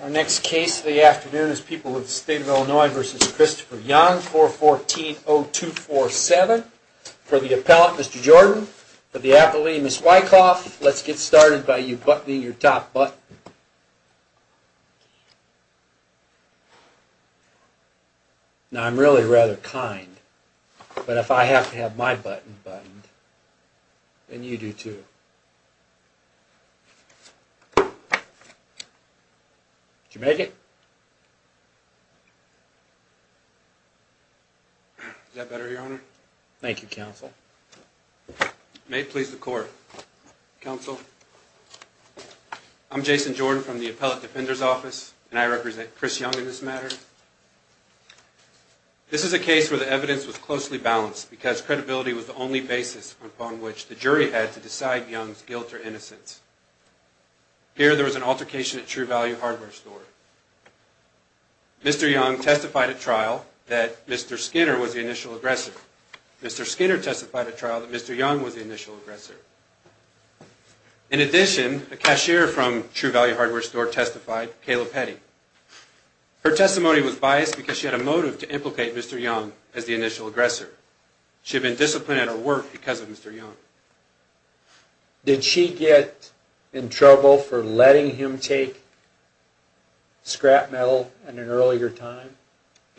Our next case of the afternoon is People of the State of Illinois v. Christopher Young, 414-0247. For the appellant, Mr. Jordan, for the athlete, Ms. Wyckoff, let's get started by you buttoning your top button. Now I'm really rather kind, but if I have to have my button buttoned, then you do too. Did you make it? Is that better, Your Honor? Thank you, Counsel. May it please the Court. Counsel, I'm Jason Jordan from the Appellate Defender's Office, and I represent Chris Young in this matter. This is a case where the evidence was closely balanced because credibility was the only basis upon which the jury had to decide Young's guilt or innocence. Here there was an altercation at True Value Hardware Store. Mr. Young testified at trial that Mr. Skinner was the initial aggressor. Mr. Skinner testified at trial that Mr. Young was the initial aggressor. In addition, a cashier from True Value Hardware Store testified, Kayla Petty. Her testimony was biased because she had a motive to implicate Mr. Young as the initial aggressor. She had been disciplined at her work because of Mr. Young. Did she get in trouble for letting him take scrap metal at an earlier time?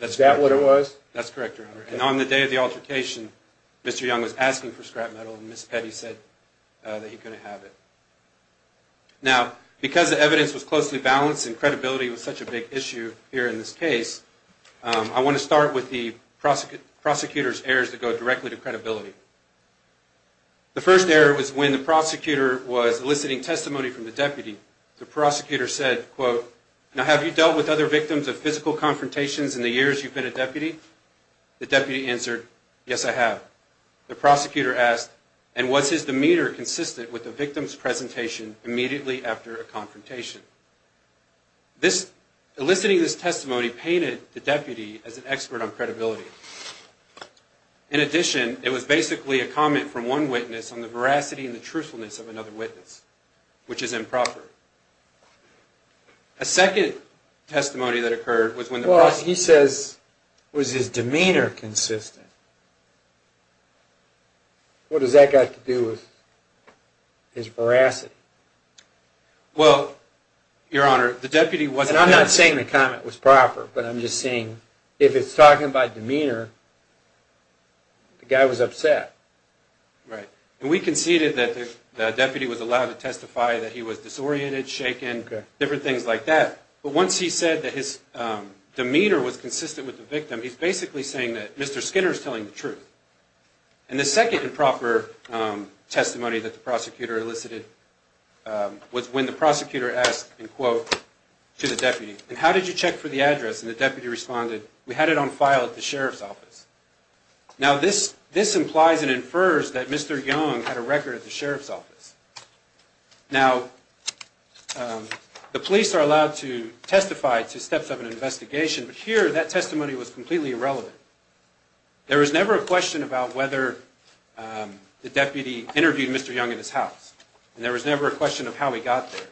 Is that what it was? That's correct, Your Honor. And on the day of the altercation, Mr. Young was asking for scrap metal, and Ms. Petty said that he couldn't have it. Now, because the evidence was closely balanced and credibility was such a big issue here in this case, I want to start with the prosecutor's errors that go directly to credibility. The first error was when the prosecutor was eliciting testimony from the deputy. The prosecutor said, quote, Now, have you dealt with other victims of physical confrontations in the years you've been a deputy? The deputy answered, Yes, I have. The prosecutor asked, And was his demeanor consistent with the victim's presentation immediately after a confrontation? Eliciting this testimony painted the deputy as an expert on credibility. In addition, it was basically a comment from one witness on the veracity and the truthfulness of another witness, which is improper. A second testimony that occurred was when the prosecutor Well, he says, was his demeanor consistent? What does that got to do with his veracity? Well, Your Honor, the deputy wasn't And I'm not saying the comment was proper, but I'm just saying if it's talking about demeanor, the guy was upset. Right. And we conceded that the deputy was allowed to testify that he was disoriented, shaken, different things like that. But once he said that his demeanor was consistent with the victim, he's basically saying that Mr. Skinner is telling the truth. And the second improper testimony that the prosecutor elicited was when the prosecutor asked, and quote, to the deputy, And how did you check for the address? And the deputy responded, We had it on file at the sheriff's office. Now, this implies and infers that Mr. Young had a record at the sheriff's office. Now, the police are allowed to testify to steps of an investigation, but here that testimony was completely irrelevant. There was never a question about whether the deputy interviewed Mr. Young in his house. And there was never a question of how he got there.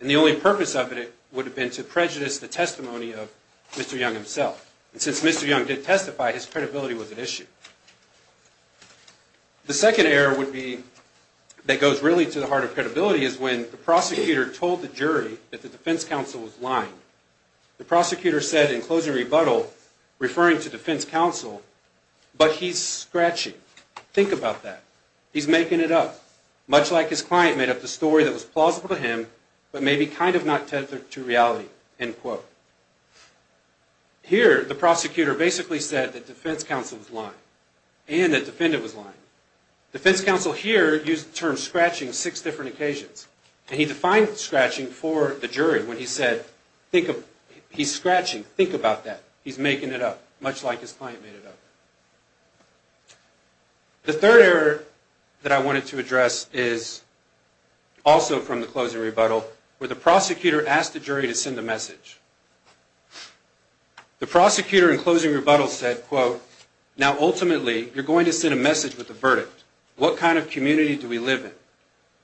And the only purpose of it would have been to prejudice the testimony of Mr. Young himself. And since Mr. Young did testify, his credibility was at issue. The second error would be, that goes really to the heart of credibility, is when the prosecutor told the jury that the defense counsel was lying. The prosecutor said in closing rebuttal, referring to defense counsel, But he's scratching. Think about that. He's making it up. Much like his client made up the story that was plausible to him, but maybe kind of not tethered to reality. End quote. Here, the prosecutor basically said that defense counsel was lying. And that the defendant was lying. Defense counsel here used the term scratching six different occasions. And he defined scratching for the jury when he said, He's scratching. Think about that. He's making it up. Much like his client made it up. The third error that I wanted to address is also from the closing rebuttal, where the prosecutor asked the jury to send a message. The prosecutor in closing rebuttal said, quote, Now ultimately, you're going to send a message with a verdict. What kind of community do we live in?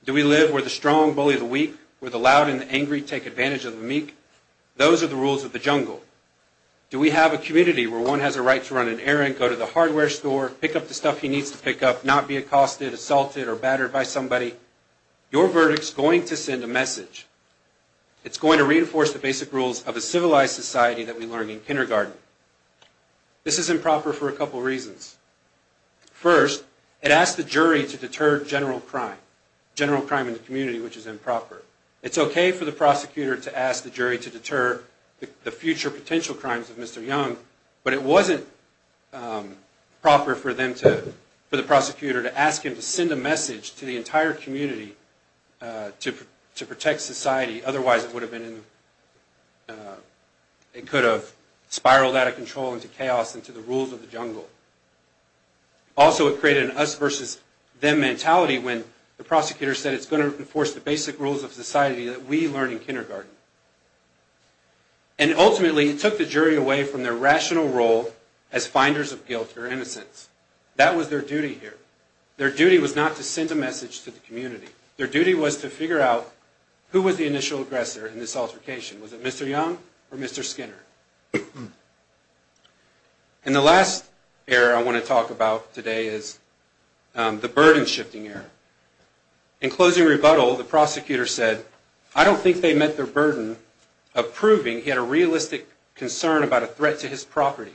Do we live where the strong bully the weak? Where the loud and the angry take advantage of the meek? Those are the rules of the jungle. Do we have a community where one has a right to run an errand, go to the hardware store, pick up the stuff he needs to pick up, not be accosted, assaulted, or battered by somebody? Your verdict's going to send a message. It's going to reinforce the basic rules of a civilized society that we learned in kindergarten. This is improper for a couple reasons. First, it asked the jury to deter general crime, general crime in the community, which is improper. It's okay for the prosecutor to ask the jury to deter the future potential crimes of Mr. Young, but it wasn't proper for the prosecutor to ask him to send a message to the entire community to protect society. Otherwise, it could have spiraled out of control into chaos, into the rules of the jungle. Also, it created an us-versus-them mentality when the prosecutor said it's going to enforce the basic rules of society that we learned in kindergarten. And ultimately, it took the jury away from their rational role as finders of guilt or innocence. That was their duty here. Their duty was to figure out who was the initial aggressor in this altercation. Was it Mr. Young or Mr. Skinner? And the last error I want to talk about today is the burden-shifting error. In closing rebuttal, the prosecutor said, I don't think they met their burden of proving he had a realistic concern about a threat to his property,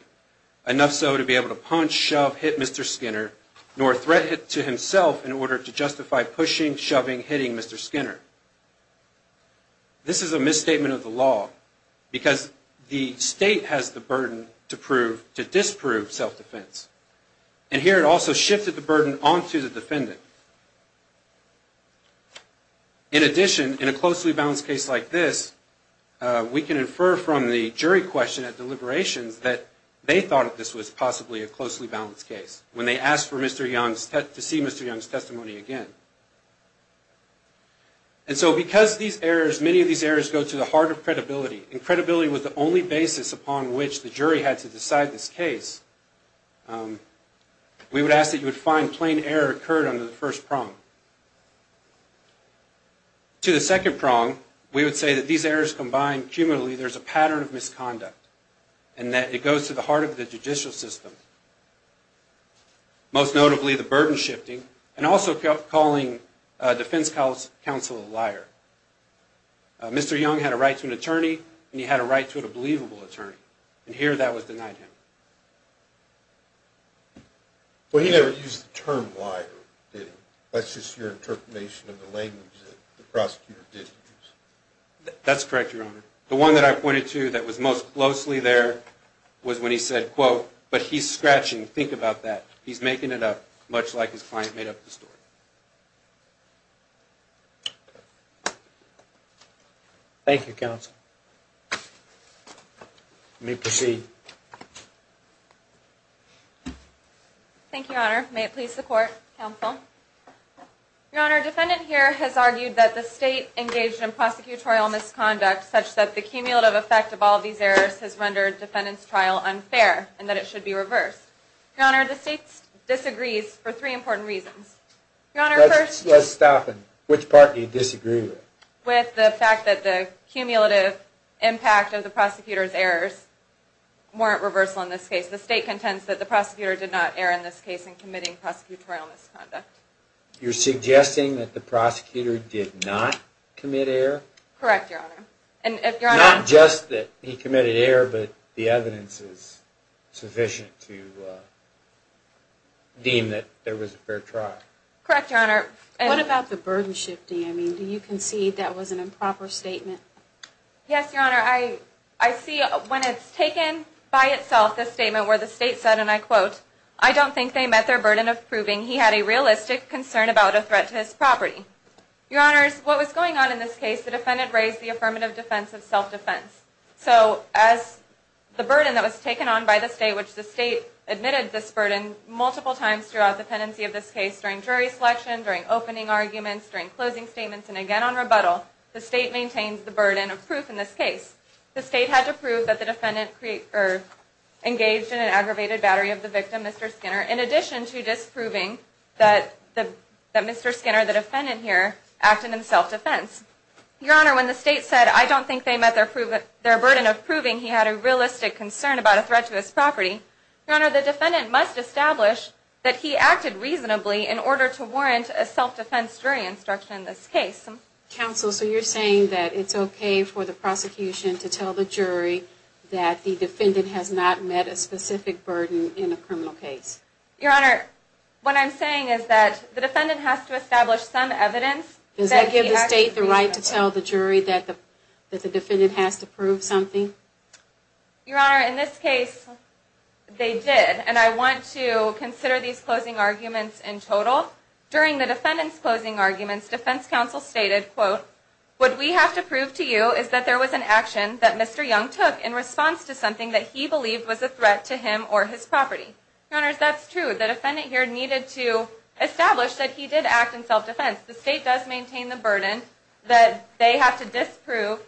enough so to be able to punch, shove, hit Mr. Skinner, nor a threat to himself in order to justify pushing, shoving, hitting Mr. Skinner. This is a misstatement of the law because the state has the burden to disprove self-defense. And here it also shifted the burden onto the defendant. In addition, in a closely balanced case like this, we can infer from the jury question at deliberations that they thought this was possibly a closely balanced case. When they asked to see Mr. Young's testimony again. And so because many of these errors go to the heart of credibility, and credibility was the only basis upon which the jury had to decide this case, we would ask that you would find plain error occurred under the first prong. To the second prong, we would say that these errors combined cumulatively, there's a pattern of misconduct, and that it goes to the heart of the judicial system. Most notably, the burden shifting, and also calling defense counsel a liar. Mr. Young had a right to an attorney, and he had a right to a believable attorney. And here that was denied him. Well, he never used the term liar, did he? That's just your interpretation of the language that the prosecutor did use. That's correct, Your Honor. The one that I pointed to that was most closely there was when he said, quote, but he's scratching, think about that. He's making it up, much like his client made up the story. Thank you, counsel. You may proceed. Thank you, Your Honor. May it please the court, counsel. Your Honor, defendant here has argued that the state engaged in prosecutorial misconduct such that the cumulative effect of all these errors has rendered defendant's trial unfair, and that it should be reversed. Your Honor, the state disagrees for three important reasons. Your Honor, first. Let's stop and which part do you disagree with? With the fact that the cumulative impact of the prosecutor's errors weren't reversal in this case. The state contends that the prosecutor did not err in this case in committing prosecutorial misconduct. You're suggesting that the prosecutor did not commit error? Correct, Your Honor. Not just that he committed error, but the evidence is sufficient to deem that there was a fair trial. Correct, Your Honor. What about the burden shifting? Do you concede that was an improper statement? Yes, Your Honor. I see when it's taken by itself, the statement where the state said, and I quote, I don't think they met their burden of proving he had a realistic concern about a threat to his property. Your Honors, what was going on in this case, the defendant raised the affirmative defense of self-defense. So as the burden that was taken on by the state, which the state admitted this burden multiple times throughout the pendency of this case, during jury selection, during opening arguments, during closing statements, and again on rebuttal, the state maintains the burden of proof in this case. The state had to prove that the defendant engaged in an aggravated battery of the victim, Mr. Skinner, in addition to disproving that Mr. Skinner, the defendant here, acted in self-defense. Your Honor, when the state said, I don't think they met their burden of proving he had a realistic concern about a threat to his property, Your Honor, the defendant must establish that he acted reasonably in order to warrant a self-defense jury instruction in this case. Counsel, so you're saying that it's okay for the prosecution to tell the jury that the defendant has not met a specific burden in a criminal case? Your Honor, what I'm saying is that the defendant has to establish some evidence that he acted reasonably. Does that give the state the right to tell the jury that the defendant has to prove something? Your Honor, in this case, they did, and I want to consider these closing arguments in total. During the defendant's closing arguments, defense counsel stated, quote, what we have to prove to you is that there was an action that Mr. Young took in response to something that he believed was a threat to him or his property. Your Honor, if that's true, the defendant here needed to establish that he did act in self-defense. The state does maintain the burden that they have to disprove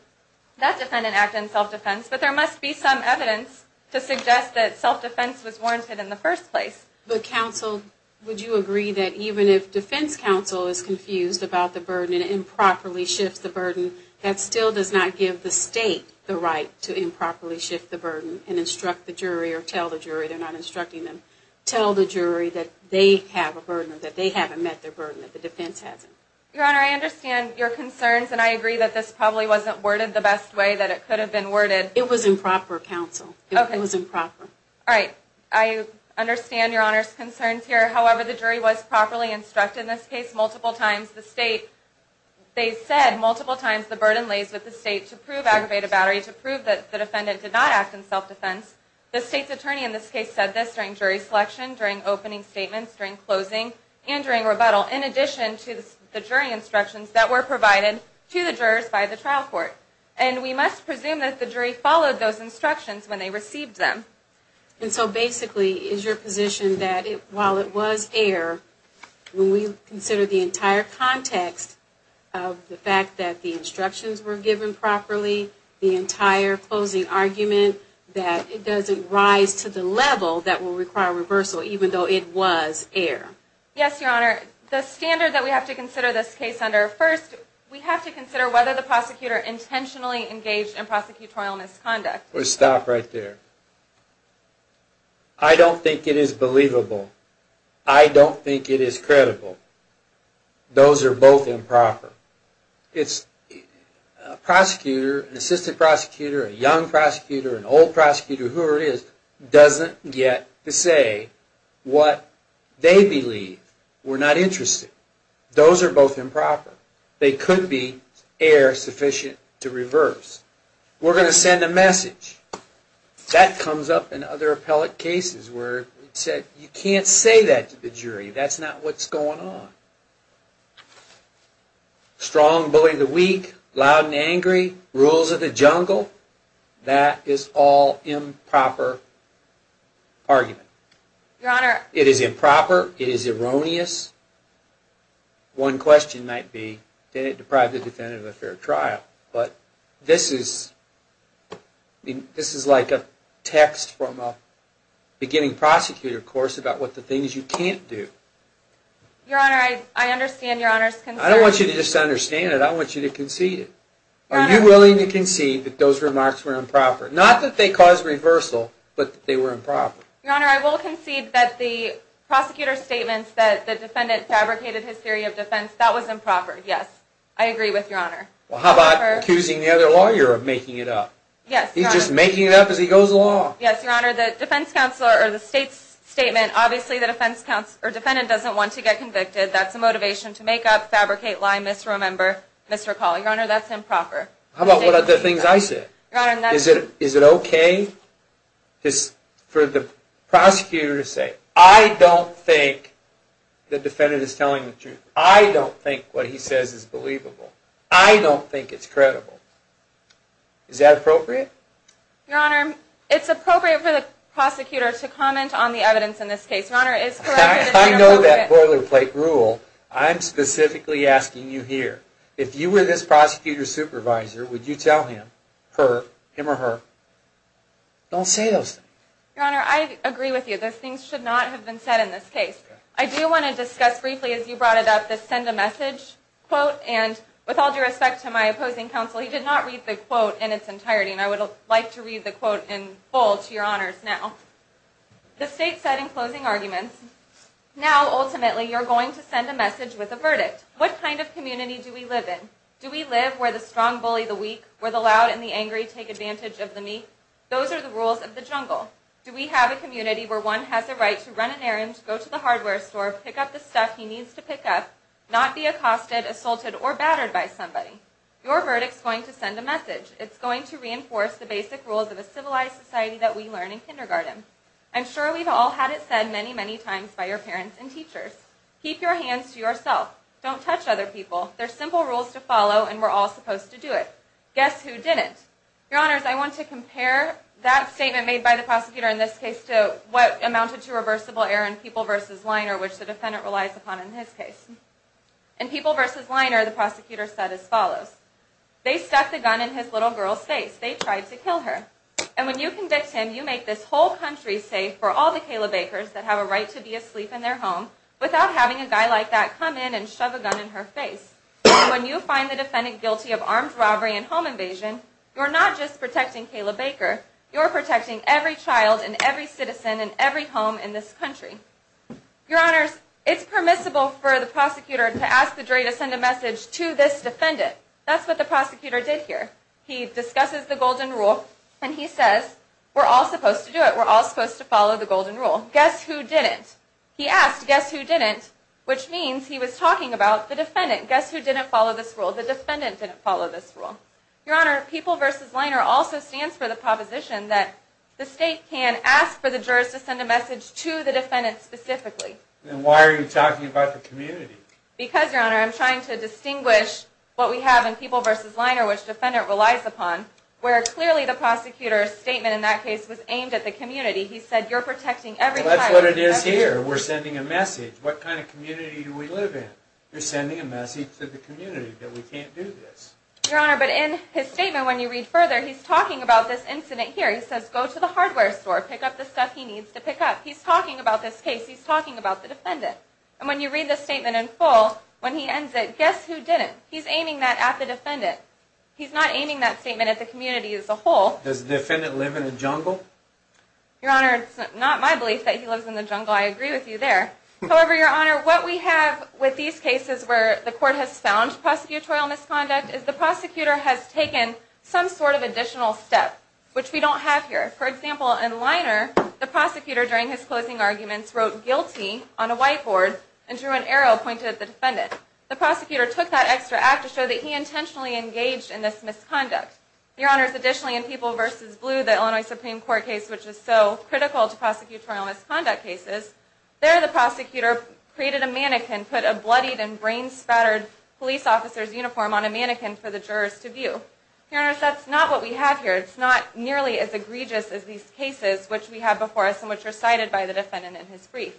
that defendant acted in self-defense, but there must be some evidence to suggest that self-defense was warranted in the first place. But, counsel, would you agree that even if defense counsel is confused about the burden and improperly shifts the burden, that still does not give the state the right to improperly shift the burden and instruct the jury or tell the jury, they're not instructing them, tell the jury that they have a burden, that they haven't met their burden, that the defense hasn't? Your Honor, I understand your concerns, and I agree that this probably wasn't worded the best way that it could have been worded. It was improper, counsel. It was improper. All right. I understand Your Honor's concerns here. However, the jury was properly instructed in this case multiple times. The state, they said multiple times the burden lays with the state to prove aggravated battery, to prove that the defendant did not act in self-defense. The state's attorney in this case said this during jury selection, during opening statements, during closing, and during rebuttal, in addition to the jury instructions that were provided to the jurors by the trial court. And we must presume that the jury followed those instructions when they received them. And so basically, is your position that while it was air, when we consider the entire context of the fact that the instructions were given properly, the entire closing argument, that it doesn't rise to the level that will require reversal even though it was air? Yes, Your Honor. The standard that we have to consider this case under, first, we have to consider whether the prosecutor intentionally engaged in prosecutorial misconduct. Stop right there. I don't think it is believable. I don't think it is credible. Those are both improper. A prosecutor, an assistant prosecutor, a young prosecutor, an old prosecutor, whoever it is, doesn't get to say what they believe. We're not interested. Those are both improper. They could be air sufficient to reverse. We're going to send a message. That comes up in other appellate cases where it's said, You can't say that to the jury. That's not what's going on. Strong bully the weak. Loud and angry. Rules of the jungle. That is all improper argument. Your Honor. It is improper. It is erroneous. One question might be, did it deprive the defendant of a fair trial? This is like a text from a beginning prosecutor course about the things you can't do. Your Honor, I understand your Honor's concern. I don't want you to misunderstand it. I want you to concede it. Are you willing to concede that those remarks were improper? Not that they caused reversal, but that they were improper. Your Honor, I will concede that the prosecutor's statements that the defendant fabricated his theory of defense, that was improper, yes. I agree with Your Honor. Well, how about accusing the other lawyer of making it up? Yes, Your Honor. He's just making it up as he goes along. Yes, Your Honor. The defense counselor or the state's statement, obviously the defendant doesn't want to get convicted. That's a motivation to make up, fabricate, lie, misremember, misrecall. Your Honor, that's improper. How about what other things I said? Your Honor, that's... Is it okay for the prosecutor to say, I don't think the defendant is telling the truth. I don't think what he says is believable. I don't think it's credible. Is that appropriate? Your Honor, it's appropriate for the prosecutor to comment on the evidence in this case. Your Honor, it's correct that... I know that boilerplate rule. I'm specifically asking you here. If you were this prosecutor's supervisor, would you tell him, her, him or her, don't say those things. Your Honor, I agree with you. Those things should not have been said in this case. I do want to discuss briefly, as you brought it up, the send a message quote. And with all due respect to my opposing counsel, he did not read the quote in its entirety. And I would like to read the quote in full to your honors now. The state said in closing arguments, now, ultimately, you're going to send a message with a verdict. What kind of community do we live in? Do we live where the strong bully the weak, where the loud and the angry take advantage of the meek? Those are the rules of the jungle. Do we have a community where one has a right to run an errand, go to the hardware store, pick up the stuff he needs to pick up, not be accosted, assaulted, or battered by somebody? Your verdict's going to send a message. It's going to reinforce the basic rules of a civilized society that we learn in kindergarten. I'm sure we've all had it said many, many times by your parents and teachers. Keep your hands to yourself. Don't touch other people. They're simple rules to follow, and we're all supposed to do it. Guess who didn't? Your Honors, I want to compare that statement made by the prosecutor in this case to what amounted to reversible error in People v. Liner, which the defendant relies upon in his case. In People v. Liner, the prosecutor said as follows. They stuck the gun in his little girl's face. They tried to kill her. And when you convict him, you make this whole country safe for all the Kayla Bakers that have a right to be asleep in their home without having a guy like that come in and shove a gun in her face. When you find the defendant guilty of armed robbery and home invasion, you're not just protecting Kayla Baker. You're protecting every child and every citizen and every home in this country. Your Honors, it's permissible for the prosecutor to ask the jury to send a message to this defendant. That's what the prosecutor did here. He discusses the Golden Rule, and he says we're all supposed to do it. We're all supposed to follow the Golden Rule. Guess who didn't? He asked, guess who didn't, which means he was talking about the defendant. Guess who didn't follow this rule? The defendant didn't follow this rule. Your Honor, PEOPLE v. Liner also stands for the proposition that the state can ask for the jurors to send a message to the defendant specifically. Then why are you talking about the community? Because, Your Honor, I'm trying to distinguish what we have in PEOPLE v. Liner which the defendant relies upon, where clearly the prosecutor's statement in that case was aimed at the community. He said you're protecting every child and every citizen. That's what it is here. We're sending a message. What kind of community do we live in? You're sending a message to the community that we can't do this. Your Honor, but in his statement, when you read further, he's talking about this incident here. He says go to the hardware store, pick up the stuff he needs to pick up. He's talking about this case. He's talking about the defendant. And when you read the statement in full, when he ends it, guess who didn't? He's aiming that at the defendant. He's not aiming that statement at the community as a whole. Does the defendant live in the jungle? Your Honor, it's not my belief that he lives in the jungle. I agree with you there. However, Your Honor, what we have with these cases where the court has found prosecutorial misconduct is the prosecutor has taken some sort of additional step, which we don't have here. For example, in Liner, the prosecutor, during his closing arguments, wrote guilty on a whiteboard and drew an arrow pointed at the defendant. The prosecutor took that extra act to show that he intentionally engaged in this misconduct. Your Honor, additionally, in People v. Blue, the Illinois Supreme Court case, which is so critical to prosecutorial misconduct cases, there the prosecutor created a mannequin, put a bloodied and brain-spattered police officer's uniform on a mannequin for the jurors to view. Your Honor, that's not what we have here. It's not nearly as egregious as these cases which we have before us and which were cited by the defendant in his brief.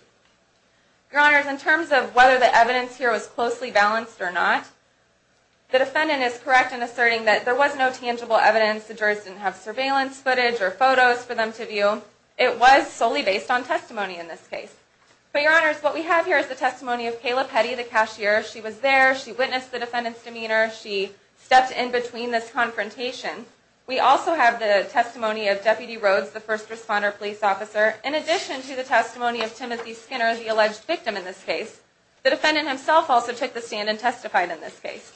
Your Honor, in terms of whether the evidence here was closely balanced or not, the defendant is correct in asserting that there was no tangible evidence. The jurors didn't have surveillance footage or photos for them to view. It was solely based on testimony in this case. But, Your Honor, what we have here is the testimony of Kayla Petty, the cashier. She was there. She witnessed the defendant's demeanor. She stepped in between this confrontation. We also have the testimony of Deputy Rhodes, the first responder police officer. In addition to the testimony of Timothy Skinner, the alleged victim in this case, the defendant himself also took the stand and testified in this case.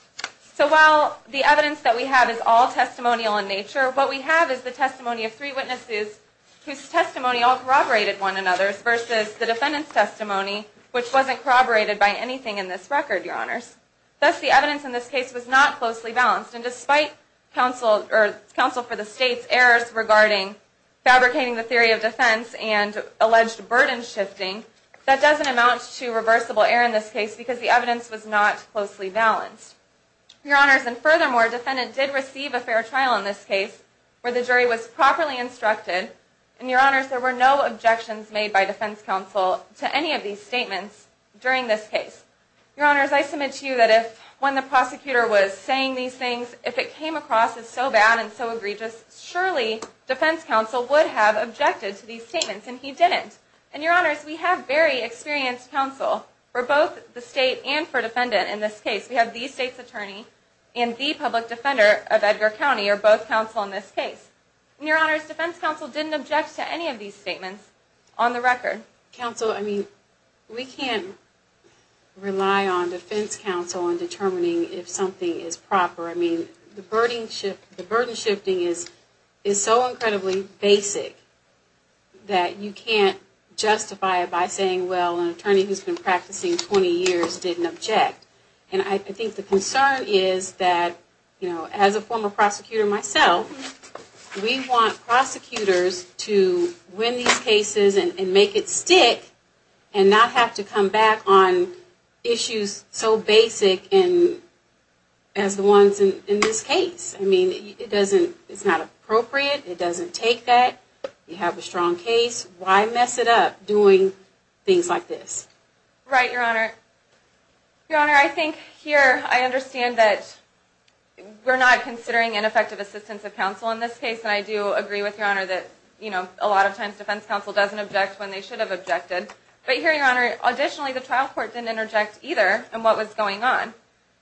So while the evidence that we have is all testimonial in nature, what we have is the testimony of three witnesses whose testimony all corroborated one another's and the defendant's testimony, which wasn't corroborated by anything in this record, Your Honors. Thus, the evidence in this case was not closely balanced. And despite counsel for the State's errors regarding fabricating the theory of defense and alleged burden shifting, that doesn't amount to reversible error in this case because the evidence was not closely balanced. Your Honors, and furthermore, the defendant did receive a fair trial in this case where the jury was properly instructed. And, Your Honors, there were no objections made by defense counsel to any of these statements during this case. Your Honors, I submit to you that if when the prosecutor was saying these things, if it came across as so bad and so egregious, surely defense counsel would have objected to these statements, and he didn't. And, Your Honors, we have very experienced counsel for both the State and for defendant in this case. We have the State's attorney and the public defender of Edgar County are both counsel in this case. And, Your Honors, defense counsel didn't object to any of these statements on the record. Counsel, I mean, we can't rely on defense counsel in determining if something is proper. I mean, the burden shifting is so incredibly basic that you can't justify it by saying, well, an attorney who's been practicing 20 years didn't object. And I think the concern is that, you know, as a former prosecutor myself, we want prosecutors to win these cases and make it stick and not have to come back on issues so basic as the ones in this case. I mean, it doesn't, it's not appropriate. It doesn't take that. You have a strong case. Why mess it up doing things like this? Right, Your Honor. Your Honor, I think here I understand that we're not considering ineffective assistance of counsel in this case. And I do agree with Your Honor that, you know, a lot of times defense counsel doesn't object when they should have objected. But here, Your Honor, additionally, the trial court didn't interject either in what was going on.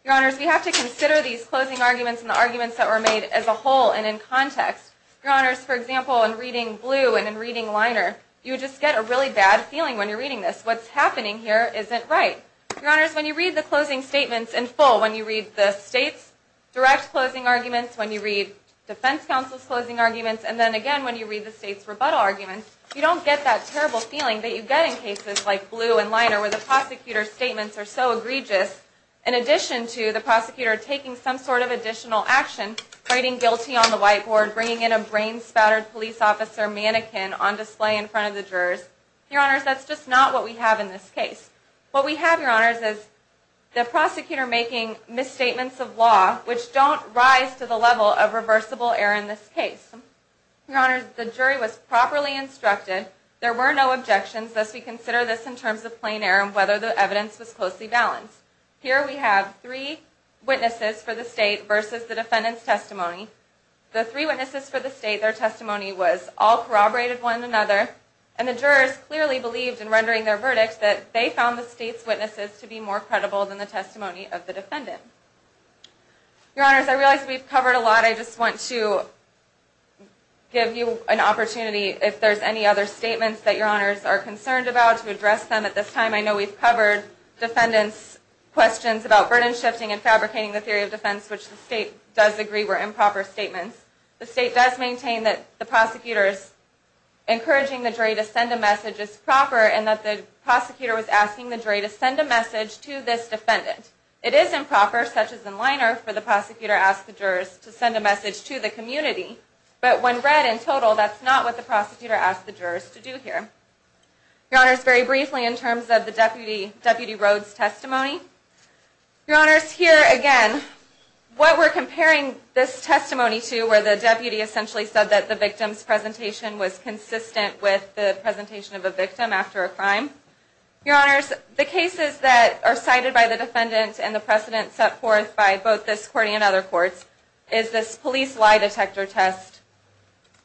Your Honors, we have to consider these closing arguments and the arguments that were made as a whole and in context. Your Honors, for example, in reading blue and in reading liner, you just get a really bad feeling when you're reading this. What's happening here isn't right. Your Honors, when you read the closing statements in full, when you read the state's direct closing arguments, when you read defense counsel's closing arguments, and then again when you read the state's rebuttal arguments, you don't get that terrible feeling that you get in cases like blue and liner where the prosecutor's statements are so egregious. In addition to the prosecutor taking some sort of additional action, writing guilty on the white board, bringing in a brain-spattered police officer mannequin on display in front of the jurors. Your Honors, that's just not what we have in this case. What we have, Your Honors, is the prosecutor making misstatements of law which don't rise to the level of reversible error in this case. Your Honors, the jury was properly instructed. There were no objections, thus we consider this in terms of plain error and whether the evidence was closely balanced. Here we have three witnesses for the state versus the defendant's testimony. The three witnesses for the state, their testimony was all corroborated one another. And the jurors clearly believed in rendering their verdict that they found the state's witnesses to be more credible than the testimony of the defendant. Your Honors, I realize we've covered a lot. I just want to give you an opportunity, if there's any other statements that Your Honors are concerned about, to address them at this time. I know we've covered defendants' questions about burden shifting and fabricating the theory of defense, which the state does agree were improper statements. The state does maintain that the prosecutor's encouraging the jury to send a message is proper and that the prosecutor was asking the jury to send a message to this defendant. It is improper, such as in Leiner, for the prosecutor to ask the jurors to send a message to the community. But when read in total, that's not what the prosecutor asked the jurors to do here. Your Honors, very briefly in terms of the Deputy Rhodes' testimony, Your Honors, here again, what we're comparing this testimony to where the deputy essentially said that the victim's presentation was consistent with the presentation of a victim after a crime. Your Honors, the cases that are cited by the defendant and the precedent set forth by both this court and other courts is this police lie detector test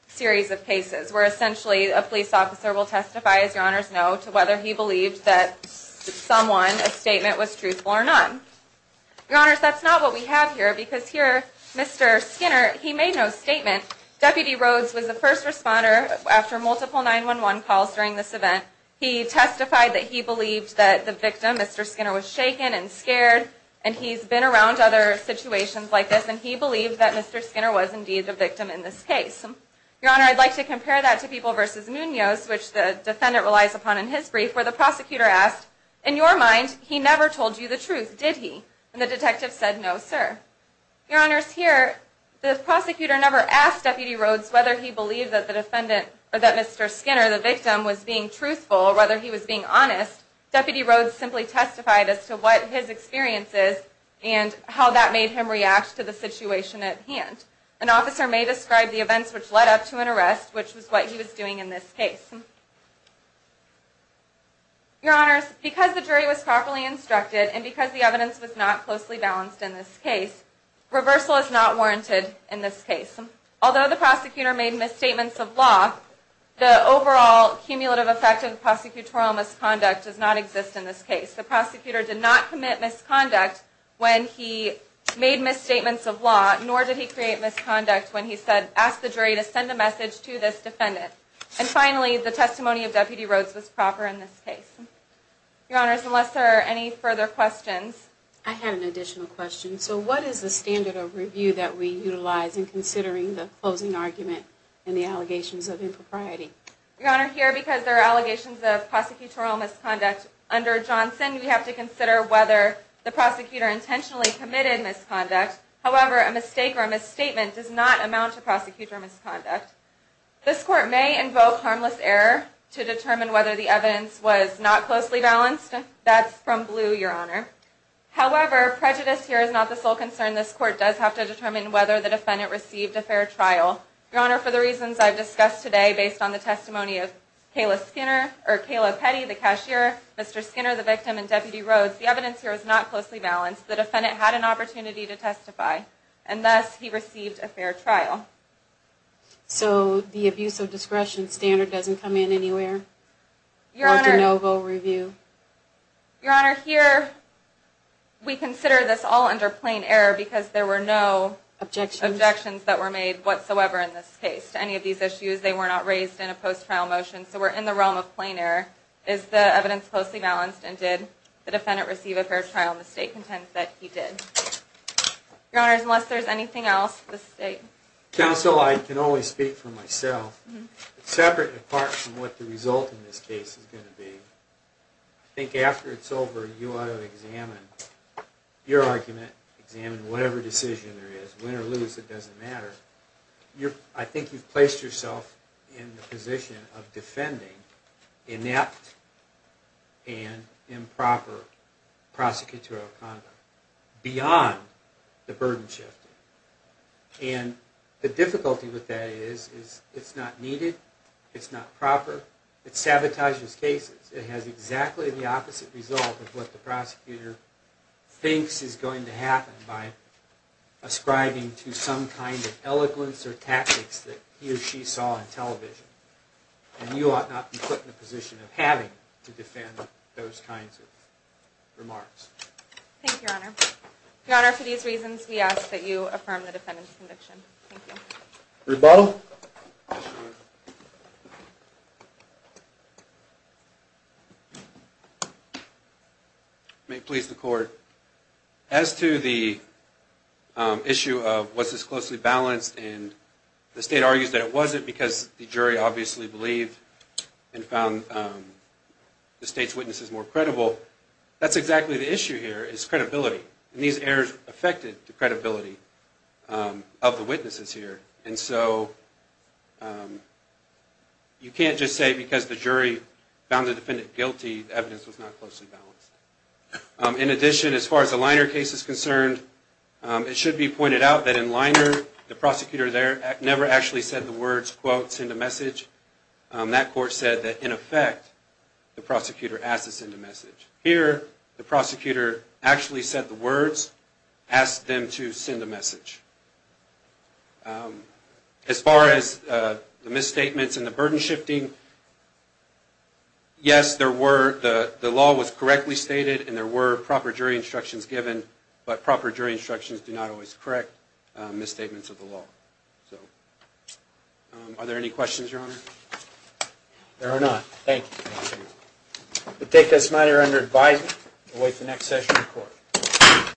series of cases where essentially a police officer will testify, as Your Honors know, to whether he believed that someone, a statement, was truthful or not. Your Honors, that's not what we have here, because here, Mr. Skinner, he made no statement. Deputy Rhodes was the first responder after multiple 911 calls during this event. He testified that he believed that the victim, Mr. Skinner, was shaken and scared, and he's been around other situations like this, and he believed that Mr. Skinner was indeed the victim in this case. Your Honor, I'd like to compare that to People v. Munoz, which the defendant relies upon in his brief, where the prosecutor asked, in your mind, he never told you the truth, did he? And the detective said, no, sir. Your Honors, here, the prosecutor never asked Deputy Rhodes whether he believed that Mr. Skinner, the victim, was being truthful or whether he was being honest. Deputy Rhodes simply testified as to what his experience is and how that made him react to the situation at hand. An officer may describe the events which led up to an arrest, which was what he was doing in this case. Your Honors, because the jury was properly instructed and because the evidence was not closely balanced in this case, reversal is not warranted in this case. Although the prosecutor made misstatements of law, the overall cumulative effect of the prosecutorial misconduct does not exist in this case. The prosecutor did not commit misconduct when he made misstatements of law, nor did he create misconduct when he asked the jury to send a message to this defendant. And finally, the testimony of Deputy Rhodes was proper in this case. Your Honors, unless there are any further questions. I have an additional question. So what is the standard of review that we utilize in considering the closing argument and the allegations of impropriety? Your Honor, here because there are allegations of prosecutorial misconduct under Johnson, we have to consider whether the prosecutor intentionally committed misconduct. However, a mistake or a misstatement does not amount to prosecutorial misconduct. This court may invoke harmless error to determine whether the evidence was not closely balanced. That's from Blue, Your Honor. However, prejudice here is not the sole concern. This court does have to determine whether the defendant received a fair trial. Your Honor, for the reasons I've discussed today based on the testimony of Kayla Petty, the cashier, Mr. Skinner, the victim, and Deputy Rhodes, the evidence here is not closely balanced. The defendant had an opportunity to testify. And thus, he received a fair trial. So the abuse of discretion standard doesn't come in anywhere? Your Honor, here we consider this all under plain error because there were no objections that were made whatsoever. In this case, to any of these issues, they were not raised in a post-trial motion. So we're in the realm of plain error. Is the evidence closely balanced? And did the defendant receive a fair trial? And the State contends that he did. Your Honor, unless there's anything else, the State? Counsel, I can only speak for myself. Separate and apart from what the result in this case is going to be, I think after it's over, you ought to examine your argument, examine whatever decision there is. Win or lose, it doesn't matter. I think you've placed yourself in the position of defending inept and improper prosecutorial conduct beyond the burden-shifting. And the difficulty with that is it's not needed, it's not proper, it sabotages cases. It has exactly the opposite result of what the prosecutor thinks is going to happen by ascribing to some kind of eloquence or tactics that he or she saw on television. And you ought not be put in the position of having to defend those kinds of remarks. Thank you, Your Honor. Your Honor, for these reasons, we ask that you affirm the defendant's conviction. Thank you. Rebuttal. May it please the Court. As to the issue of was this closely balanced, and the State argues that it wasn't because the jury obviously believed and found the State's witnesses more credible, that's exactly the issue here is credibility. And these errors affected the credibility of the witnesses here. And so you can't just say because the jury found the defendant guilty, the evidence was not closely balanced. In addition, as far as the Liner case is concerned, it should be pointed out that in Liner, the prosecutor there never actually said the words, quote, send a message. That court said that, in effect, the prosecutor asked to send a message. Here, the prosecutor actually said the words, asked them to send a message. As far as the misstatements and the burden shifting, yes, the law was correctly stated and there were proper jury instructions given, but proper jury instructions do not always correct misstatements of the law. Are there any questions, Your Honor? There are not. Thank you. We'll take this matter under advisement and wait for the next session of court.